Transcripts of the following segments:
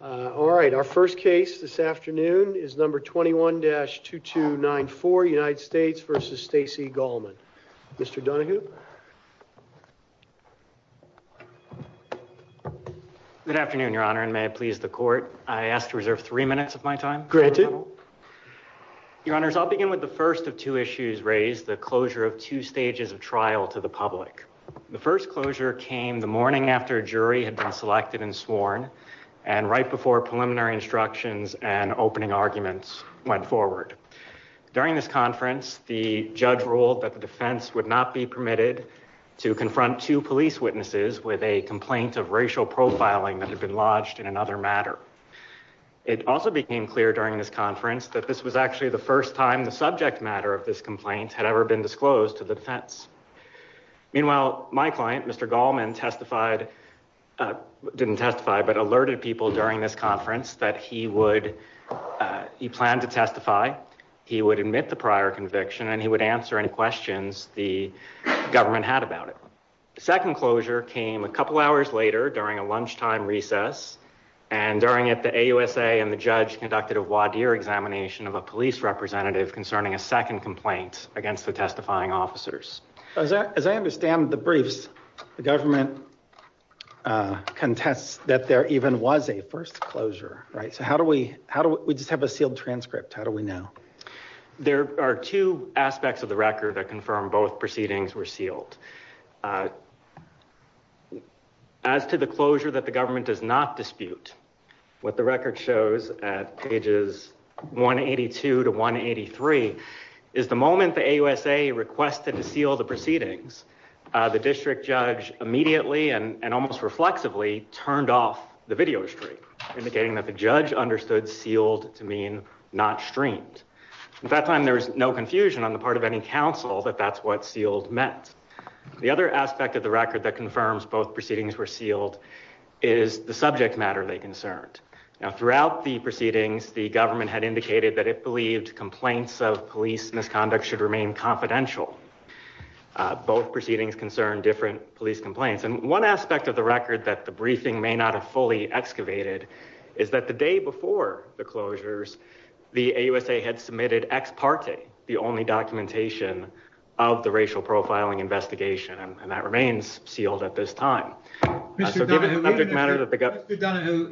All right, our first case this afternoon is number 21-2294, United States v. Stacey Gallman. Mr. Donohue? Good afternoon, Your Honor, and may it please the Court, I ask to reserve three minutes of my time. Granted. Your Honors, I'll begin with the first of two issues raised, the closure of two stages of trial to the public. The first closure came the morning after a jury had been selected and sworn, and right before preliminary instructions and opening arguments went forward. During this conference, the judge ruled that the defense would not be permitted to confront two police witnesses with a complaint of racial profiling that had been lodged in another matter. It also became clear during this conference that this was actually the first time the subject matter of this complaint had ever been disclosed to the defense. Meanwhile, my client, Mr. Gallman, alerted people during this conference that he planned to testify, he would admit the prior conviction, and he would answer any questions the government had about it. The second closure came a couple hours later during a lunchtime recess, and during it, the AUSA and the judge conducted a voir dire examination of a police representative concerning a second complaint against the testifying officers. As I understand the briefs, the government contests that there even was a first closure, right? So how do we, how do we just have a sealed transcript? How do we know? There are two aspects of the record that confirm both proceedings were sealed. As to the closure that the government does not dispute, what the record shows at pages 182 to 183 is the moment the AUSA requested to seal the proceedings, the district judge immediately and almost reflexively turned off the video stream, indicating that the judge understood sealed to mean not streamed. At that time, there was no confusion on the part of any counsel that that's what sealed meant. The other aspect of the record that confirms both proceedings were sealed is the subject matter they concerned. Now, throughout the proceedings, the government had indicated that it believed complaints of police misconduct should remain confidential. Both proceedings concern different police complaints. And one aspect of the record that the briefing may not have fully excavated is that the day before the closures, the AUSA had submitted ex parte, the only documentation of the racial profiling investigation. And that remains sealed at this time. Mr. Donohue,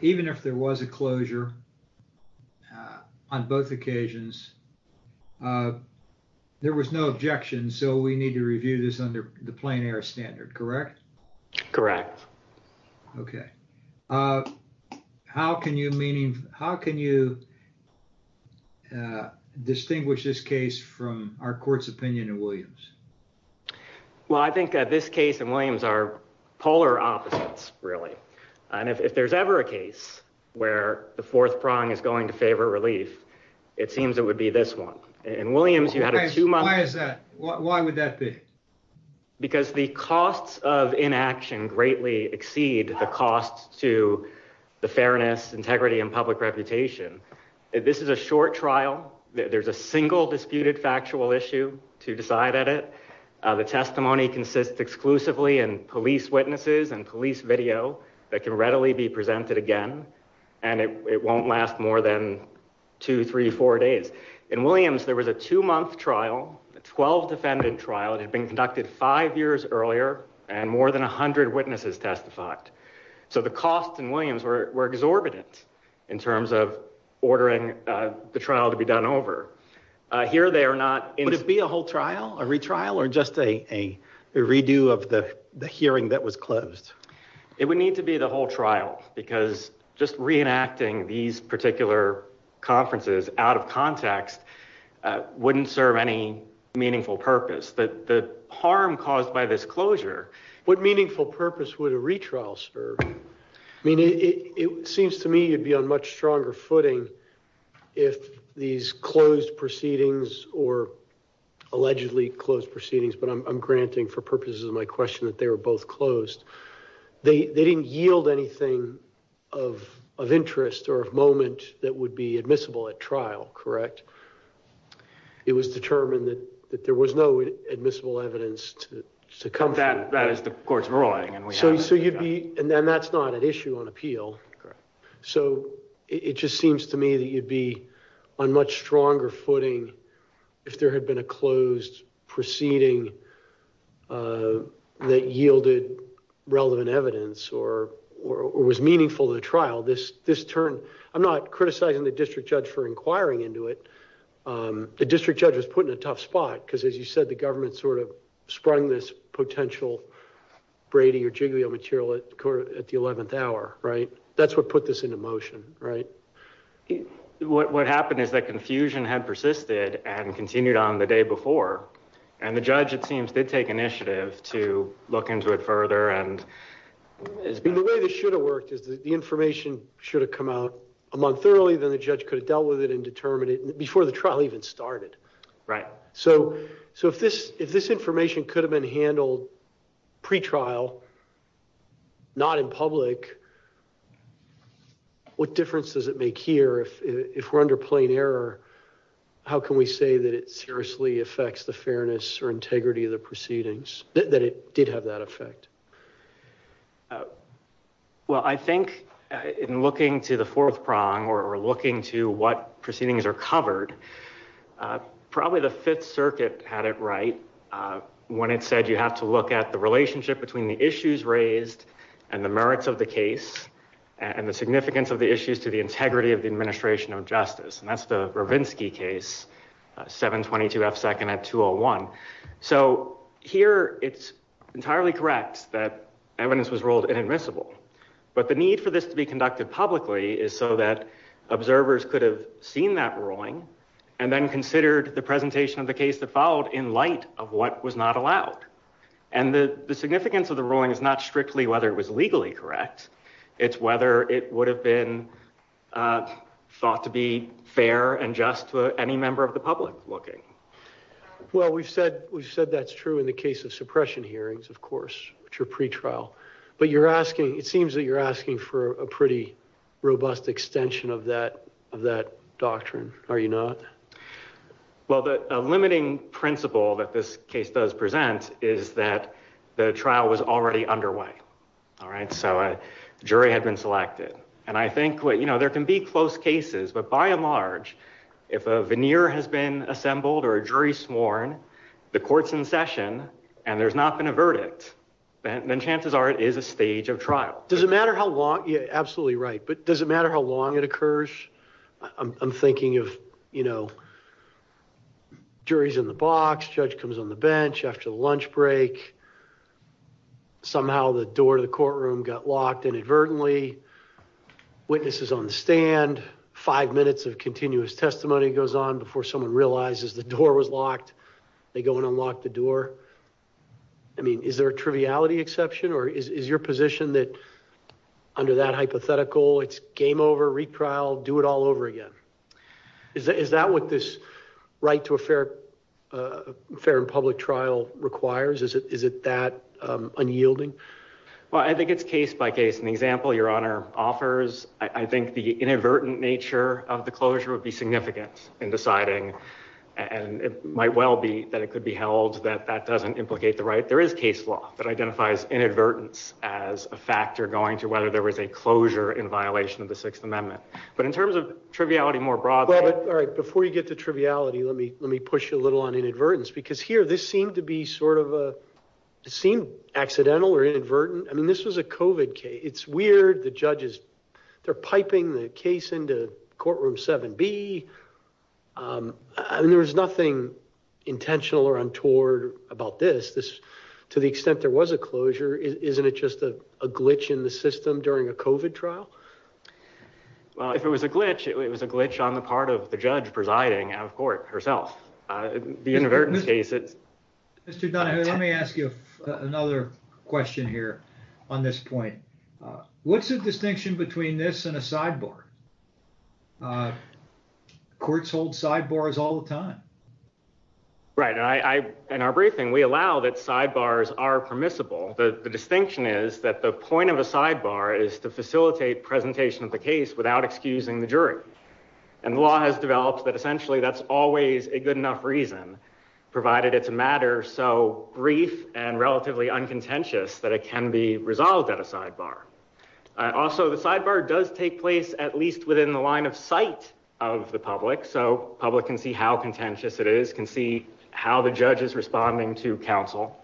even if there was a closure on both occasions, there was no objection. So we need to review this under the plain air standard, correct? Correct. OK. How can you distinguish this case from our court's opinion in Williams? Well, I think this case in Williams are polar opposites, really. And if there's ever a case where the fourth prong is going to favor relief, it seems it would be this one. In Williams, you had a two month. Why is that? Why would that be? Because the costs of inaction greatly exceed the costs to the fairness, integrity and public reputation. This is a short trial. There's a single disputed factual issue to decide at it. The testimony consists exclusively in police witnesses and police video that can readily be presented again. And it won't last more than two, three, four days. In Williams, there was a two month trial, a 12 defendant trial that had been conducted five years earlier and more than 100 witnesses testified. So the cost in Williams were exorbitant in terms of ordering the trial to be done over. Here they are not. Would it be a whole trial, a retrial or just a redo of the hearing that was closed? It would need to be the whole trial because just reenacting these particular conferences out of context wouldn't serve any meaningful purpose that the harm caused by this closure. What meaningful purpose would a retrial serve? I mean, it seems to me you'd be on much stronger footing if these closed proceedings or allegedly closed proceedings, but I'm granting for purposes of my question that they were both closed. They didn't yield anything of interest or of moment that would be admissible at trial, correct? Correct. It was determined that there was no admissible evidence to come from. That is the court's ruling and we have it. And that's not an issue on appeal. So it just seems to me that you'd be on much stronger footing if there had been a closed proceeding that yielded relevant evidence or was meaningful to the trial. I'm not criticizing the district judge for inquiring into it. The district judge was put in a tough spot because as you said, the government sort of sprung this potential Brady or Jiggly on material at the 11th hour, right? That's what put this into motion, right? What happened is that confusion had persisted and continued on the day before. And the judge, it seems, did take initiative to look into it further. And the way this should have worked is that the information should have come out a month early than the judge could have dealt with it and determined it before the trial even started. Right. So, so if this, if this information could have been handled pretrial, not in public, what difference does it make here if we're under plain error? How can we say that it seriously affects the fairness or integrity of the proceedings that it did have that effect? Well, I think in looking to the fourth prong or looking to what proceedings are covered, probably the fifth circuit had it right. When it said you have to look at the relationship between the issues raised and the merits of the case and the significance of the issues to the integrity of the administration of justice. And that's the Ravinsky case, 722 F second at 201. So here it's entirely correct that evidence was ruled inadmissible, but the need for this to be conducted publicly is so that observers could have seen that ruling and then considered the presentation of the case that followed in light of what was not allowed. And the significance of the ruling is not strictly whether it was legally correct. It's whether it would have been thought to be fair and just to any member of the public looking. Well, we've said, we've said that's true in the case of suppression hearings, of course, which are pretrial, but you're asking, it seems that you're asking for a pretty robust extension of that, of that doctrine. Are you not? Well, the limiting principle that this case does present is that the trial was already underway. All right. So a jury had been selected and I think what, you know, there can be close cases, but by and large, if a veneer has been assembled or a jury sworn, the court's in session and there's not been a verdict, then chances are it is a stage of trial. Does it matter how long? Yeah, absolutely. Right. But does it matter how long it occurs? I'm thinking of, you know, jury's in the box, judge comes on the bench after the lunch break. Somehow the door to the courtroom got locked inadvertently. Witnesses on the stand, five minutes of continuous testimony goes on before someone realizes the door was locked. They go and unlock the door. I mean, is there a triviality exception or is your position that under that hypothetical, it's game over, retrial, do it all over again? Is that what this right to a fair, a fair and public trial requires? Is it, is it that unyielding? Well, I think it's case by case. In the example your honor offers, I think the inadvertent nature of the closure would be significant in deciding and it might well be that it could be held that that doesn't implicate the right. There is case law that identifies inadvertence as a factor going to whether there was a closure in violation of the sixth amendment. But in terms of triviality more broadly, all right, before you get to triviality, let me, let me push you a little on inadvertence because here this seemed to be sort of a, it seemed accidental or inadvertent. I mean, this was a COVID case. It's weird. The judges, they're piping the case into courtroom seven B. Um, I mean, there was nothing intentional or untoward about this, this to the extent there was a closure. Isn't it just a glitch in the system during a COVID trial? Well, if it was a glitch, it was a glitch on the part of the judge presiding out of court herself. Uh, the inadvertence case, it's Mr. Dunham, let me ask you another question here. On this point, uh, what's the distinction between this and a sidebar, uh, courts hold sidebars all the time, right? And I, I, in our briefing, we allow that sidebars are permissible. The distinction is that the point of a sidebar is to facilitate presentation of the case without excusing the jury. And the law has developed that essentially that's always a good enough reason provided it's a matter. So brief and relatively uncontentious that it can be resolved at a sidebar. Also the sidebar does take place at least within the line of sight of the public. So public can see how contentious it is, can see how the judge is responding to counsel,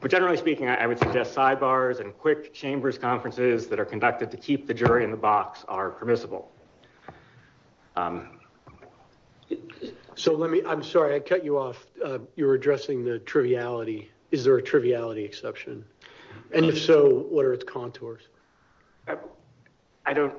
but generally speaking, I would suggest sidebars and quick chambers conferences that are conducted to keep the jury in the box are permissible. So let me, I'm sorry. I cut you off. You were addressing the triviality. Is there a triviality exception? And if so, what are its contours? I don't,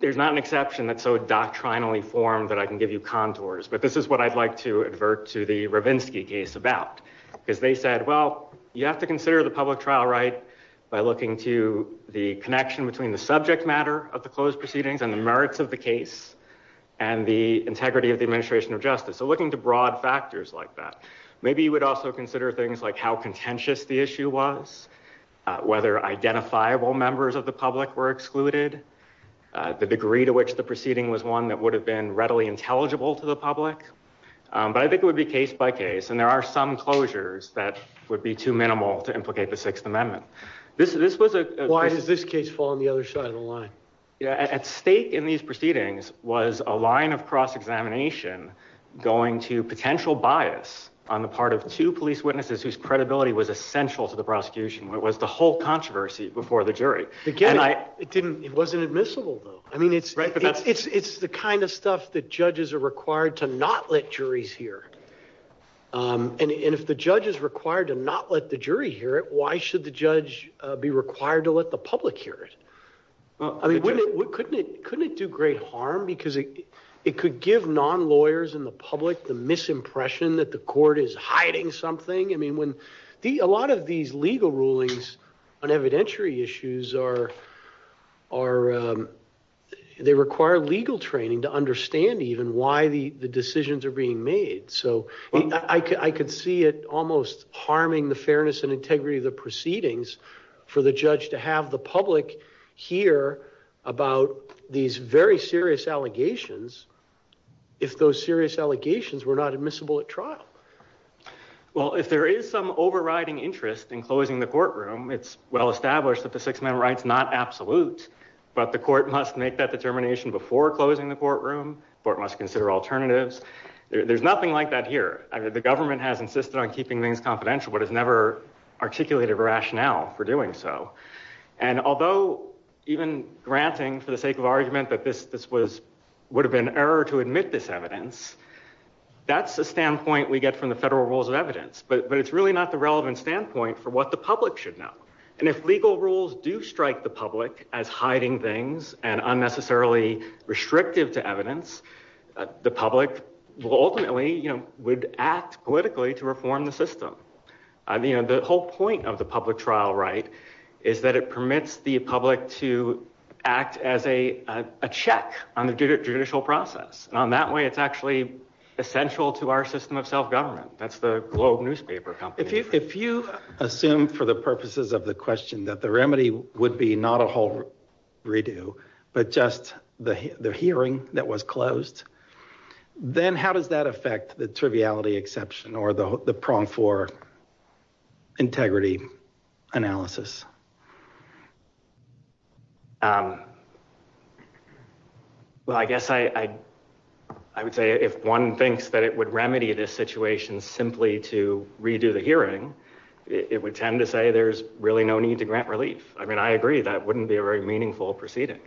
there's not an exception that's so doctrinally formed that I can give you contours, but this is what I'd like to advert to the Robinski case about because they said, well, you have to consider the public trial right by looking to the connection between the subject matter of the closed proceedings and the merits of the case and the integrity of the administration of justice. So looking to broad factors like that, maybe you would also consider things like how contentious the issue was, whether identifiable members of the public were excluded, the degree to which the proceeding was one that would have been readily intelligible to the public. But I think it would be case by case. And there are some closures that would be too minimal to implicate the sixth amendment. This is, this was a, why does this case fall on the other side of the line at stake in these proceedings was a line of cross-examination going to potential bias on the part of two police witnesses whose credibility was essential to the prosecution, what was the whole controversy before the jury? Again, I, it didn't, it wasn't admissible though. I mean, it's, it's, it's the kind of stuff that judges are required to not let juries hear. Um, and if the judge is required to not let the jury hear it, why should the judge be required to let the public hear it? I mean, wouldn't it, couldn't it, couldn't it do great harm because it could give non-lawyers in the public, the misimpression that the court is hiding something. I mean, when the, a lot of these legal rulings on evidentiary issues are, are, um, they require legal training to understand even why the decisions are being made. So I could, I could see it almost harming the fairness and integrity of the proceedings for the judge to have the public here about these very serious allegations. If those serious allegations were not admissible at trial, well, if there is some overriding interest in closing the courtroom, it's well established that the six minute right's not absolute, but the court must make that determination before closing the courtroom, but it must consider alternatives. There's nothing like that here. I mean, the government has insisted on keeping things confidential, but it's never articulated rationale for doing so. And although even granting for the sake of argument that this, this was, would have been error to admit this evidence, that's a standpoint we get from the federal rules of evidence, but it's really not the relevant standpoint for what the public should know. And if legal rules do strike the public as hiding things and unnecessarily restrictive to evidence, the public will ultimately, you know, would act politically to reform the system. I mean, the whole point of the public trial, right, is that it permits the public to act as a, a check on the judicial process on that way. It's actually essential to our system of self-government. That's the Globe newspaper company. If you assume for the purposes of the question that the remedy would be not a whole redo, but just the hearing that was closed, then how does that affect the triviality exception or the prong for integrity analysis? Well, I guess I, I would say if one thinks that it would remedy this situation simply to redo the hearing, it would tend to say there's really no need to grant relief. I mean, I agree that wouldn't be a very meaningful proceeding,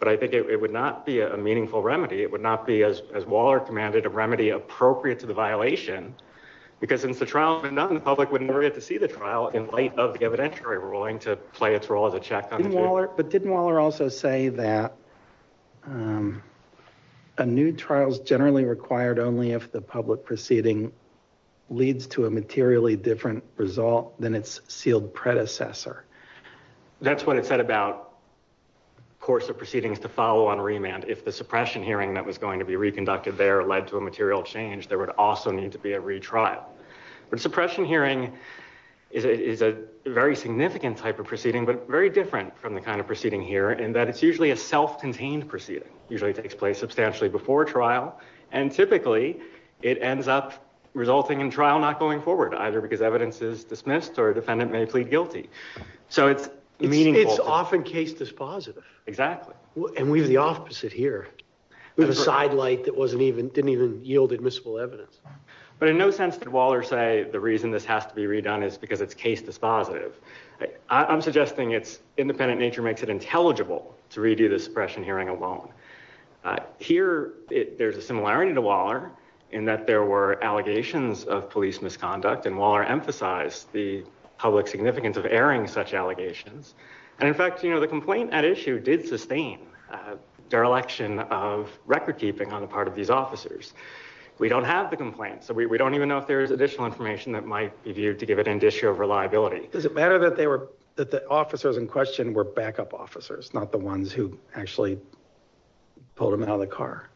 but I think it would not be a meaningful remedy. It would not be as, as Waller commanded a remedy appropriate to the violation because since the trial had been done, the public would never get to see the trial in light of the evidentiary ruling to play its role as a check on the case. But didn't Waller also say that a new trial is generally required only if the public proceeding leads to a materially different result than its sealed predecessor? That's what it said about course of proceedings to follow on remand. And if the suppression hearing that was going to be reconducted there led to a material change, there would also need to be a retrial, but suppression hearing is a very significant type of proceeding, but very different from the kind of proceeding here in that it's usually a self-contained proceeding usually takes place substantially before trial. And typically it ends up resulting in trial, not going forward either because evidence is dismissed or defendant may plead guilty. So it's meaningful. It's often case dispositive. Exactly. And we have the opposite here. We have a sidelight that didn't even yield admissible evidence. But in no sense did Waller say the reason this has to be redone is because it's case dispositive. I'm suggesting its independent nature makes it intelligible to redo the suppression hearing alone. Here, there's a similarity to Waller in that there were allegations of police misconduct and Waller emphasized the public significance of airing such allegations. And in fact, you know, the complaint at issue did sustain dereliction of recordkeeping on the part of these officers. We don't have the complaint, so we don't even know if there is additional information that might be viewed to give it an issue of reliability. Does it matter that they were, that the officers in question were backup officers, not the ones who actually pulled them out of the car?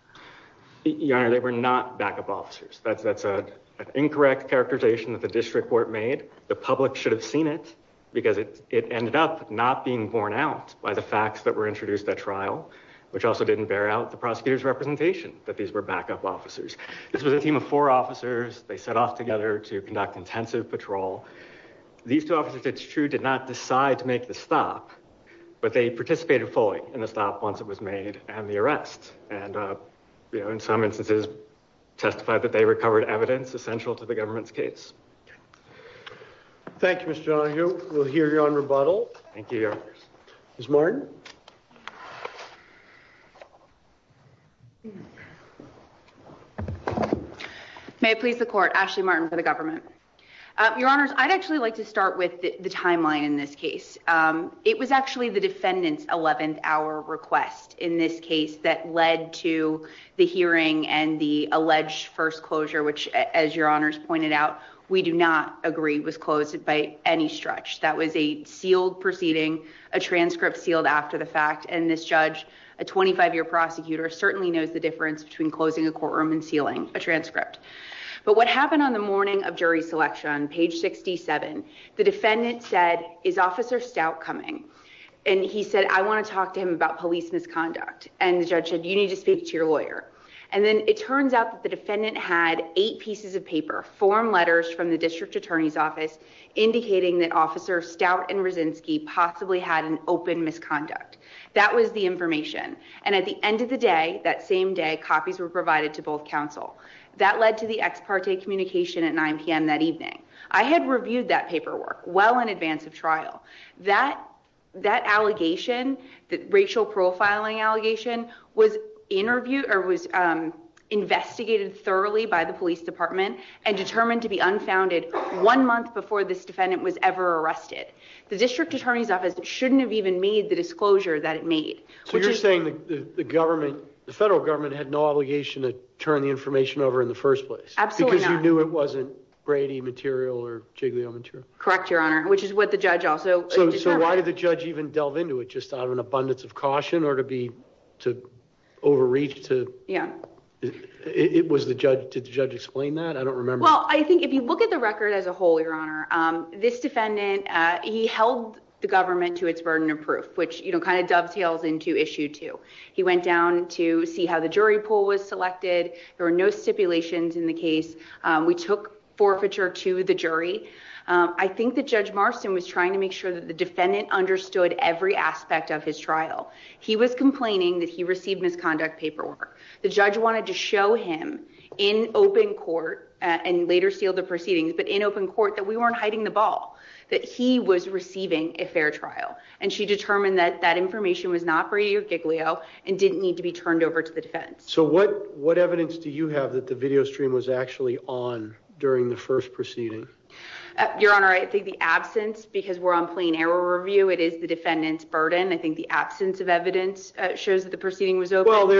Your Honor, they were not backup officers. That's an incorrect characterization that the district court made. The public should have seen it because it ended up not being borne out by the facts that were introduced at trial, which also didn't bear out the prosecutor's representation that these were backup officers. This was a team of four officers. They set off together to conduct intensive patrol. These two officers, it's true, did not decide to make the stop, but they participated fully in the stop once it was made and the arrest. And you know, in some instances testified that they recovered evidence essential to the government's case. Thank you, Mr. Donohue. We'll hear you on rebuttal. Thank you, Your Honor. Ms. Martin. May it please the court. Ashley Martin for the government. Your Honors, I'd actually like to start with the timeline in this case. It was actually the defendant's 11th hour request in this case that led to the hearing and the alleged first closure, which, as Your Honors pointed out, we do not agree was closed by any stretch. That was a sealed proceeding, a transcript sealed after the fact. And this judge, a 25-year prosecutor, certainly knows the difference between closing a courtroom and sealing a transcript. But what happened on the morning of jury selection, page 67, the defendant said, is Officer Stout coming? And he said, I want to talk to him about police misconduct. And the judge said, you need to speak to your lawyer. And then it turns out that the defendant had eight pieces of paper, form letters from the district attorney's office, indicating that Officer Stout and Rosinsky possibly had an open misconduct. That was the information. And at the end of the day, that same day, copies were provided to both counsel. That led to the ex parte communication at 9 p.m. that evening. I had reviewed that paperwork well in advance of trial. That allegation, the racial profiling allegation, was investigated thoroughly by the police department and determined to be unfounded one month before this defendant was ever arrested. The district attorney's office shouldn't have even made the disclosure that it made. So you're saying the federal government had no obligation to turn the information over in the first place? Absolutely not. Because you knew it wasn't Brady material or Giglio material? Correct, Your Honor. Which is what the judge also... So why did the judge even delve into it, just out of an abundance of caution or to overreach? It was the judge. Did the judge explain that? I don't remember. Well, I think if you look at the record as a whole, Your Honor, this defendant, he held the government to its burden of proof, which kind of dovetails into issue two. He went down to see how the jury pool was selected. We took forfeiture to the jury. I think that Judge Marston was trying to make sure that the defendant understood every aspect of his trial. He was complaining that he received misconduct paperwork. The judge wanted to show him in open court, and later sealed the proceedings, but in open court that we weren't hiding the ball, that he was receiving a fair trial. And she determined that that information was not Brady or Giglio and didn't need to be turned over to the defense. So what evidence do you have that the video stream was actually on during the first proceeding? Your Honor, I think the absence, because we're on plain error review, it is the defendant's burden. I think the absence of evidence shows that the proceeding was over. Well,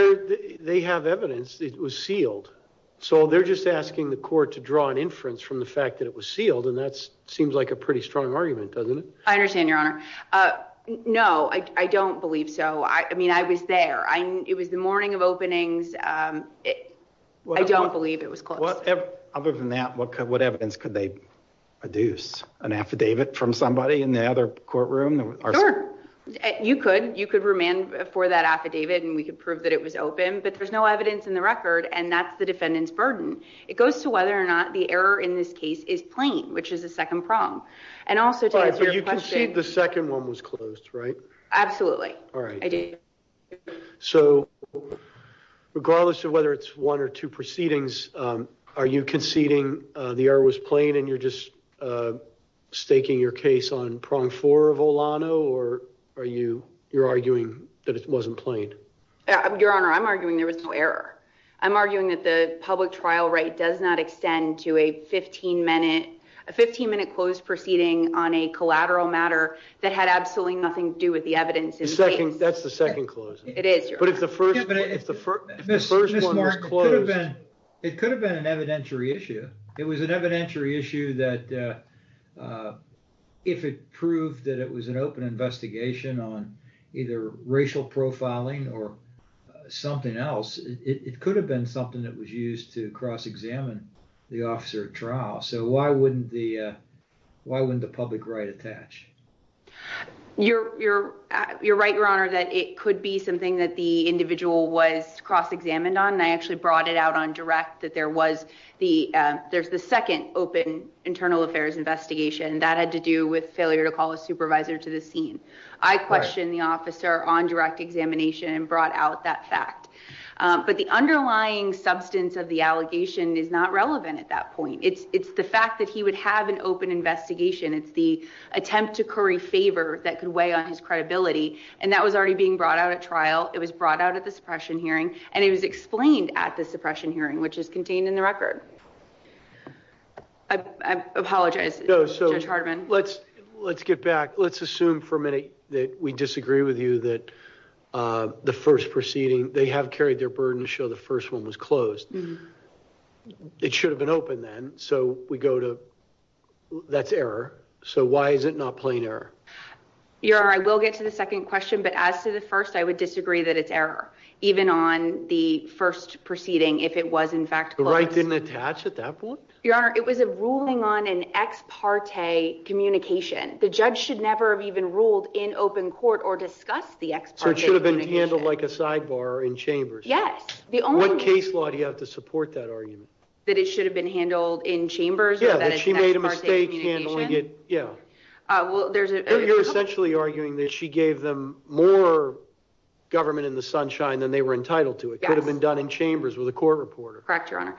they have evidence that was sealed. So they're just asking the court to draw an inference from the fact that it was sealed. And that seems like a pretty strong argument, doesn't it? I understand, Your Honor. No, I don't believe so. I mean, I was there. I mean, it was the morning of openings. I don't believe it was. Other than that, what could what evidence could they deduce, an affidavit from somebody in the other courtroom? You could you could remand for that affidavit and we could prove that it was open, but there's no evidence in the record. And that's the defendant's burden. It goes to whether or not the error in this case is plain, which is a second prong. And also, you can see the second one was closed, right? Absolutely. All right. So regardless of whether it's one or two proceedings, are you conceding the error was plain and you're just staking your case on prong four of Olano or are you you're arguing that it wasn't plain? Your Honor, I'm arguing there was no error. I'm arguing that the public trial rate does not extend to a 15 minute, a 15 minute closed proceeding on a collateral matter that had absolutely nothing to do with the evidence in the second. That's the second closing. It is. But if the first, if the first one was closed, it could have been an evidentiary issue. It was an evidentiary issue that if it proved that it was an open investigation on either racial profiling or something else, it could have been something that was used to cross-examine the officer at trial. So why wouldn't the why wouldn't the public right attach? You're you're you're right, Your Honor, that it could be something that the individual was cross-examined on. And I actually brought it out on direct that there was the there's the second open internal affairs investigation that had to do with failure to call a supervisor to the scene. I questioned the officer on direct examination and brought out that fact. But the underlying substance of the allegation is not relevant at that point. It's it's the fact that he would have an open investigation. It's the attempt to curry favor that could weigh on his credibility. And that was already being brought out at trial. It was brought out at the suppression hearing and it was explained at the suppression hearing, which is contained in the record. I apologize, Judge Hardiman. Let's let's get back. Let's assume for a minute that we disagree with you that the first proceeding, they have carried their burden to show the first one was closed. It should have been open then. So we go to that's error. So why is it not plain error? Your Honor, I will get to the second question. But as to the first, I would disagree that it's error, even on the first proceeding, if it was, in fact, the right didn't attach at that point. Your Honor, it was a ruling on an ex parte communication. The judge should never have even ruled in open court or discuss the ex parte. Should have been handled like a sidebar in chambers. Yes. The only case law do you have to support that argument? That it should have been handled in chambers. Yeah, she made a mistake handling it. Yeah, well, there's you're essentially arguing that she gave them more government in the sunshine than they were entitled to. It could have been done in chambers with a court reporter. Correct, Your Honor.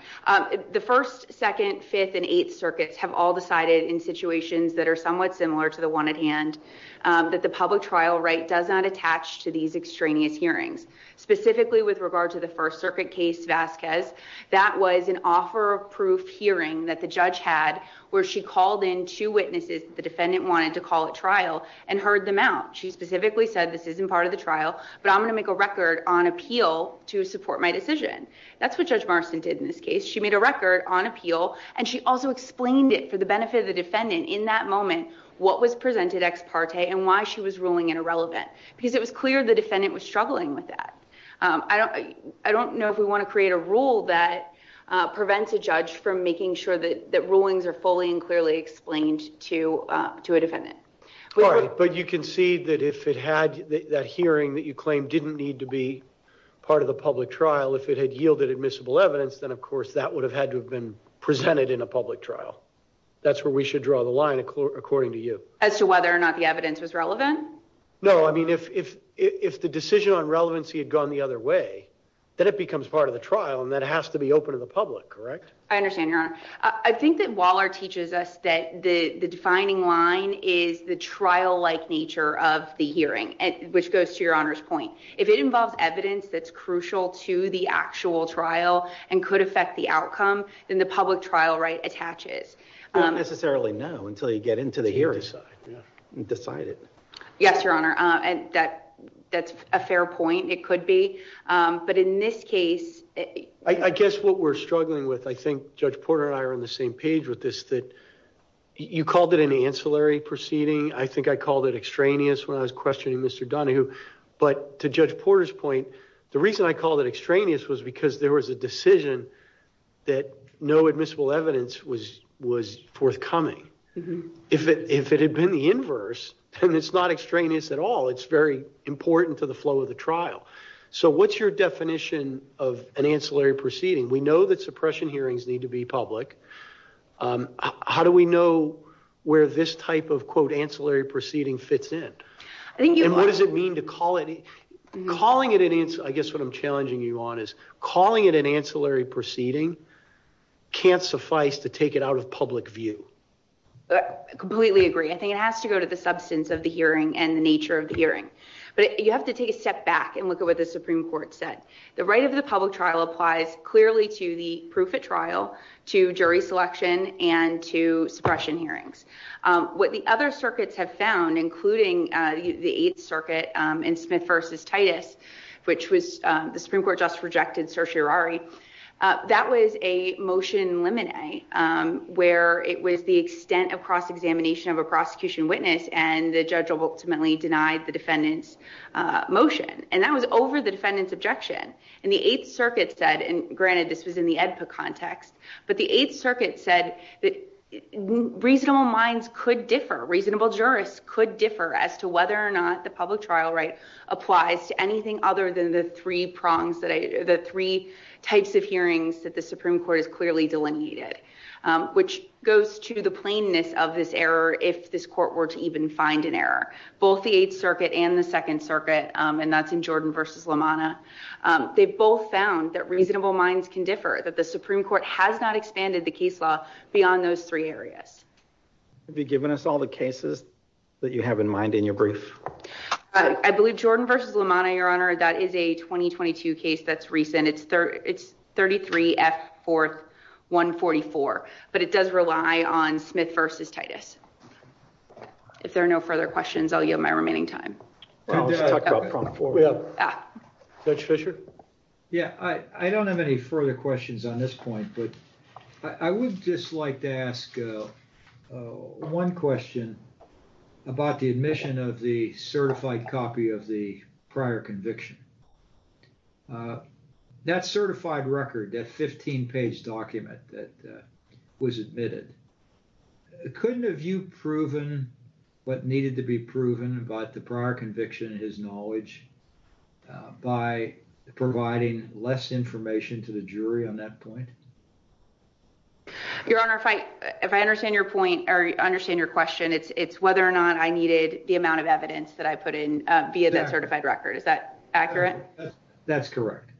The first, second, fifth and eighth circuits have all decided in situations that are somewhat similar to the one at hand that the public trial right does not attach to these extraneous hearings, specifically with regard to the First Circuit case Vasquez. That was an offer of proof hearing that the judge had where she called in two witnesses. The defendant wanted to call a trial and heard them out. She specifically said this isn't part of the trial, but I'm going to make a record on appeal to support my decision. That's what Judge Marston did in this case. She made a record on appeal and she also explained it for the benefit of the defendant in that moment. What was presented ex parte and why she was ruling it irrelevant because it was clear the defendant was struggling with that. I don't I don't know if we want to create a rule that prevents a judge from making sure that the rulings are fully and clearly explained to to a defendant. But you can see that if it had that hearing that you claim didn't need to be part of the public trial, if it had yielded admissible evidence, then, of course, that would have had to have been presented in a public trial. That's where we should draw the line, according to you. As to whether or not the evidence was relevant? No, I mean, if if if the decision on relevancy had gone the other way, then it becomes part of the trial and that has to be open to the public. Correct. I understand. I think that Waller teaches us that the defining line is the trial like nature of the hearing, which goes to your honor's point. If it involves evidence that's crucial to the actual trial and could affect the outcome than the public trial right attaches. Necessarily. No. Until you get into the hearing side and decide it. Yes, your honor. And that that's a fair point. It could be. But in this case, I guess what we're struggling with, I think Judge Porter and I are on the same page with this that you called it an ancillary proceeding. I think I called it extraneous when I was questioning Mr. Donahue. But to Judge Porter's point, the reason I called it extraneous was because there was a decision that no admissible evidence was was forthcoming. If it if it had been the inverse and it's not extraneous at all, it's very important to the flow of the trial. So what's your definition of an ancillary proceeding? We know that suppression hearings need to be public. How do we know where this type of, quote, ancillary proceeding fits in? I think what does it mean to call it calling it? I guess what I'm challenging you on is calling it an ancillary proceeding can't suffice to take it out of public view. Completely agree. I think it has to go to the substance of the hearing and the nature of the hearing. But you have to take a step back and look at what the Supreme Court said. The right of the public trial applies clearly to the proof of trial, to jury selection and to suppression hearings. What the other circuits have found, including the Eighth Circuit and Smith versus Titus, which was the Supreme Court just rejected certiorari. That was a motion in limine where it was the extent of cross-examination of a prosecution witness and the judge ultimately denied the defendant's motion. And that was over the defendant's objection. And the Eighth Circuit said, and granted, this was in the EDPA context, but the Eighth Circuit said that reasonable minds could differ, reasonable jurists could differ as to whether or not the public trial right applies to anything other than the three prongs that the three types of hearings that the Supreme Court has clearly delineated, which goes to the plainness of this error. If this court were to even find an error, both the Eighth Circuit and the Second Circuit, and that's in Jordan versus Lamana, they both found that reasonable minds can differ, that the Supreme Court has not expanded the case law beyond those three areas. Have you given us all the cases that you have in mind in your brief? I believe Jordan versus Lamana, Your Honor, that is a 2022 case that's recent. It's it's 33 F 4th 144, but it does rely on Smith versus Titus. If there are no further questions, I'll yield my remaining time. Judge Fischer? Yeah, I don't have any further questions on this point, but I would just like to ask one question about the admission of the certified copy of the prior conviction. That certified record, that 15 page document that was admitted, couldn't have you proven what needed to be proven about the prior conviction in his knowledge by providing less information to the jury on that point? Your Honor, if I if I understand your point or understand your question, it's it's whether or not I needed the amount of evidence that I put in via that certified record. Is that accurate? That's correct.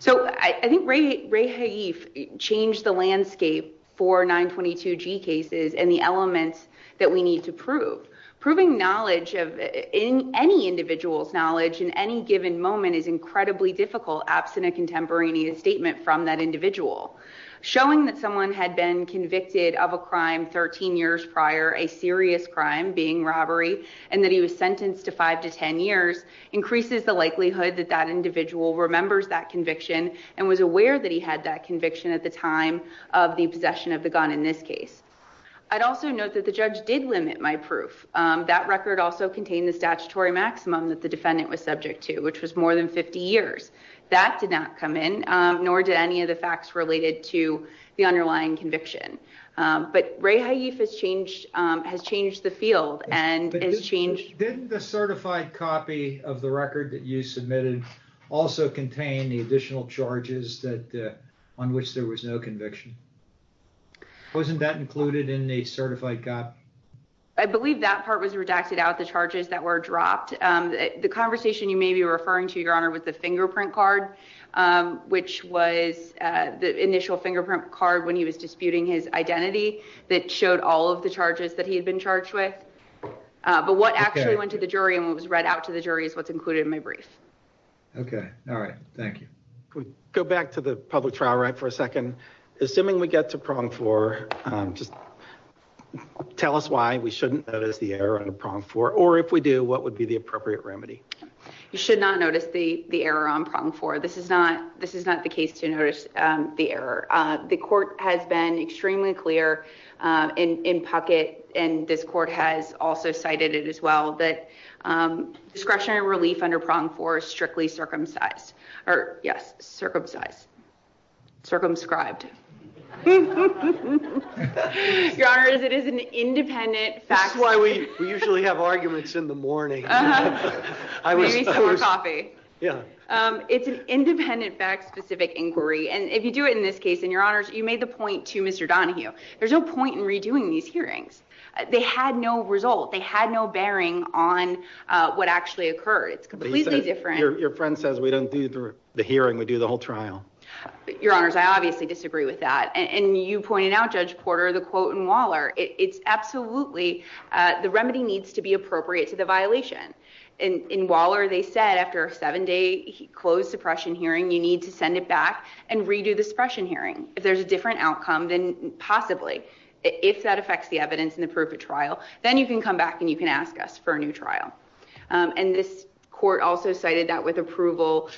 So I think Ray Hayeef changed the landscape for 922 G cases and the elements that we need to prove, proving knowledge of any individual's knowledge in any given moment is incredibly difficult absent a contemporaneous statement from that individual. Showing that someone had been convicted of a crime 13 years prior, a serious crime, being robbery, and that he was sentenced to 5 to 10 years increases the likelihood that that individual remembers that conviction and was aware that he had that conviction at the time of the possession of the gun in this case. I'd also note that the judge did limit my proof. That record also contained the statutory maximum that the defendant was subject to, which was more than 50 years. That did not come in, nor did any of the facts related to the underlying conviction. But Ray Hayeef has changed, has changed the field and has changed. Didn't the certified copy of the record that you submitted also contain the additional charges that on which there was no conviction? Wasn't that included in the certified copy? I believe that part was redacted out, the charges that were dropped. The conversation you may be referring to, your honor, with the fingerprint card, which was the initial fingerprint card when he was disputing his identity, that showed all of the charges that he had been charged with. But what actually went to the jury and what was read out to the jury is what's included in my brief. Okay. All right. Thank you. Can we go back to the public trial right for a second? Assuming we get to prong four, just tell us why we shouldn't notice the error on prong four. Or if we do, what would be the appropriate remedy? You should not notice the error on prong four. This is not the case to notice the error. The court has been extremely clear in Puckett, and this court has also cited it as well, that discretionary relief under prong four is strictly circumcised. Or yes, circumcised. Circumscribed. Your honor, it is an independent fact. We usually have arguments in the morning. It's an independent fact specific inquiry. And if you do it in this case, and your honors, you made the point to Mr. Donahue, there's no point in redoing these hearings. They had no result. They had no bearing on what actually occurred. It's completely different. Your friend says we don't do the hearing. We do the whole trial. Your honors, I obviously disagree with that. And you pointed out, Judge Porter, the quote in Waller. It's absolutely, the remedy needs to be appropriate to the violation. In Waller, they said after a seven-day closed suppression hearing, you need to send it back and redo the suppression hearing. If there's a different outcome, then possibly, if that affects the evidence and the proof of trial, then you can come back and you can ask us for a new trial. And this court also cited that with approval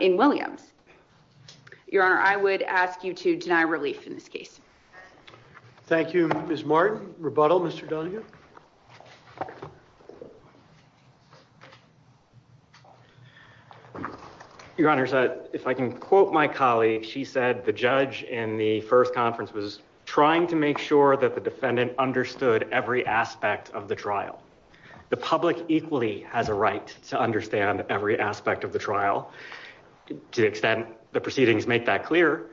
in Williams. Your honor, I would ask you to deny relief in this case. Thank you, Ms. Martin. Rebuttal, Mr. Donahue. Your honors, if I can quote my colleague, she said the judge in the first conference was trying to make sure that the defendant understood every aspect of the trial. The public equally has a right to understand every aspect of the trial, to the extent the proceedings make that clear.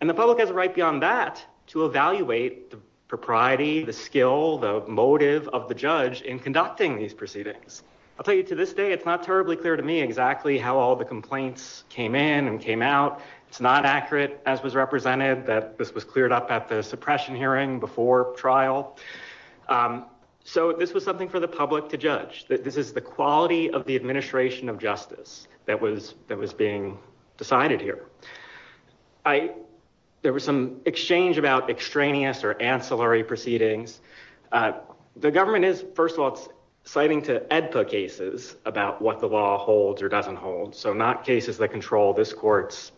And the public has a right beyond that to evaluate the propriety, the skill, the motive of the judge in conducting these proceedings. I'll tell you to this day, it's not terribly clear to me exactly how all the complaints came in and came out. It's not accurate as was represented that this was cleared up at the suppression hearing before trial. So this was something for the public to judge. This is the quality of the administration of justice that was being decided here. There was some exchange about extraneous or ancillary proceedings. The government is, first of all, citing to EDPA cases about what the law holds or doesn't hold, so not cases that control this court's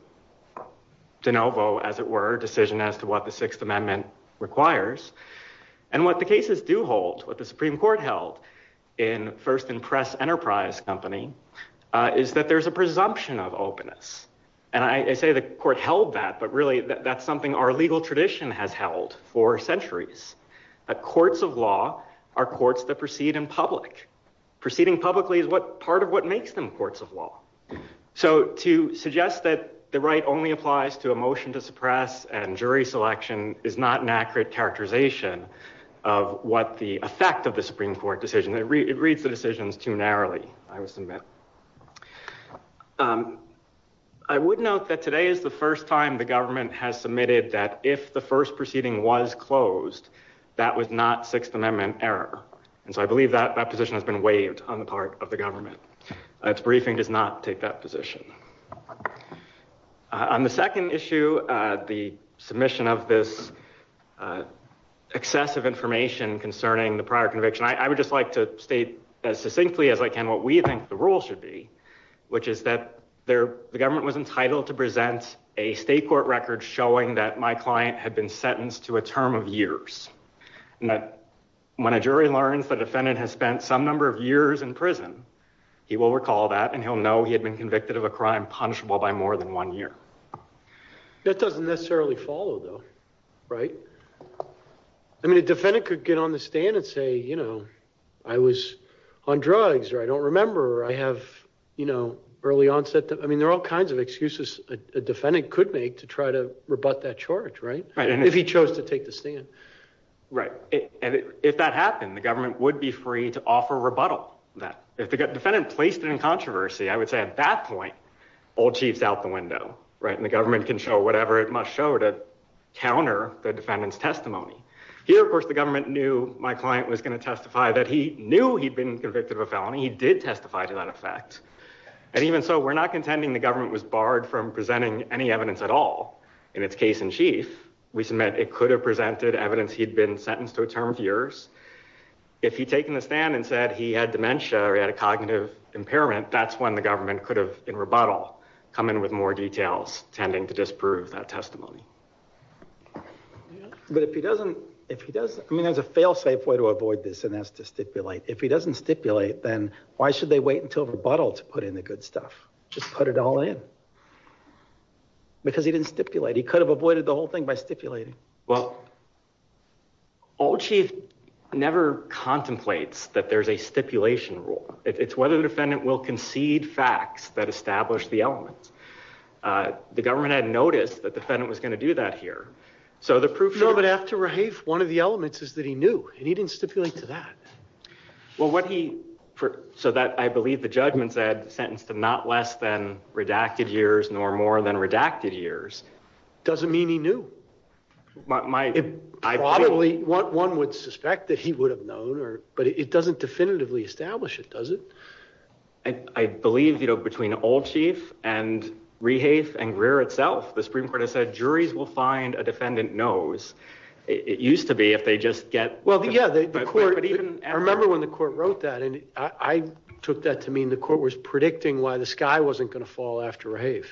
de novo, as it were, decision as to what the Sixth Amendment requires. And what the cases do hold, what the Supreme Court held in First and Press Enterprise Company, is that there's a presumption of openness. And I say the court held that, but really that's something our legal tradition has held for centuries, that courts of law are courts that proceed in public. Proceeding publicly is part of what makes them courts of law. So to suggest that the right only applies to a motion to suppress and jury selection is not an accurate characterization of what the effect of the Supreme Court decision. It reads the decisions too narrowly, I must admit. I would note that today is the first time the government has submitted that if the first proceeding was closed, that was not Sixth Amendment error. And so I believe that that position has been waived on the part of the government. Its briefing does not take that position. On the second issue, the submission of this excessive information concerning the prior conviction, I would just like to state as succinctly as I can what we think the rule should be, which is that the government was entitled to present a state court record showing that my client had been sentenced to a term of years, and that when a jury learns the defendant has spent some number of years in prison, he will recall that and he'll know he had been convicted of a crime punishable by more than one year. That doesn't necessarily follow though, right? I mean, a defendant could get on the stand and say, you know, I was on drugs or I don't know, early onset. I mean, there are all kinds of excuses a defendant could make to try to rebut that charge, right? If he chose to take the stand. Right. If that happened, the government would be free to offer rebuttal. If the defendant placed it in controversy, I would say at that point, old chief's out the window, right? And the government can show whatever it must show to counter the defendant's testimony. Here, of course, the government knew my client was going to testify that he knew he'd been convicted of a felony. He did testify to that effect. And even so, we're not contending the government was barred from presenting any evidence at all. In its case in chief, we submit it could have presented evidence. He'd been sentenced to a term of years. If he'd taken the stand and said he had dementia or he had a cognitive impairment, that's when the government could have, in rebuttal, come in with more details, tending to disprove that testimony. But if he doesn't, if he does, I mean, there's a fail safe way to avoid this and that's to stipulate. If he doesn't stipulate, then why should they wait until rebuttal to put in the good stuff? Just put it all in because he didn't stipulate. He could have avoided the whole thing by stipulating. Well, old chief never contemplates that there's a stipulation rule. It's whether the defendant will concede facts that establish the elements. The government had noticed that defendant was going to do that here. So the proof. No, but after one of the elements is that he knew and he didn't stipulate to that. Well, what he, so that I believe the judgment said sentenced to not less than redacted years nor more than redacted years. Doesn't mean he knew. One would suspect that he would have known or, but it doesn't definitively establish it, does it? I believe, you know, between old chief and Rehaeth and Greer itself, the Supreme Court has said juries will find a defendant knows. It used to be if they just get. Well, yeah, I remember when the court wrote that and I took that to mean the court was predicting why the sky wasn't going to fall after Rehaeth,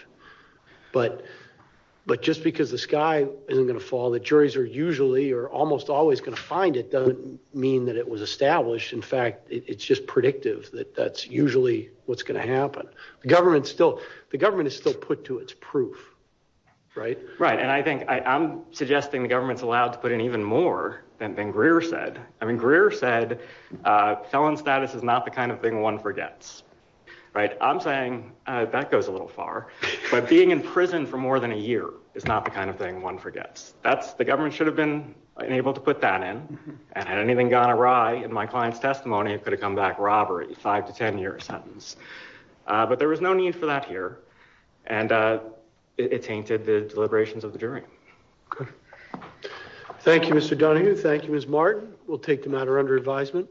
but, but just because the sky isn't going to fall, the juries are usually, or almost always going to find it doesn't mean that it was established. In fact, it's just predictive that that's usually what's going to happen. The government still, the government is still put to its proof, right? Right. And I think I'm suggesting the government's allowed to put in even more than, than Greer said. I mean, Greer said felon status is not the kind of thing one forgets, right? I'm saying that goes a little far, but being in prison for more than a year is not the kind of thing one forgets. That's the government should have been able to put that in. And had anything gone awry in my client's testimony, it could have come back robbery five to 10 year sentence. But there was no need for that here. And it tainted the deliberations of the jury. Thank you, Mr. Donahue. Thank you, Ms. Martin. We'll take the matter under advisement.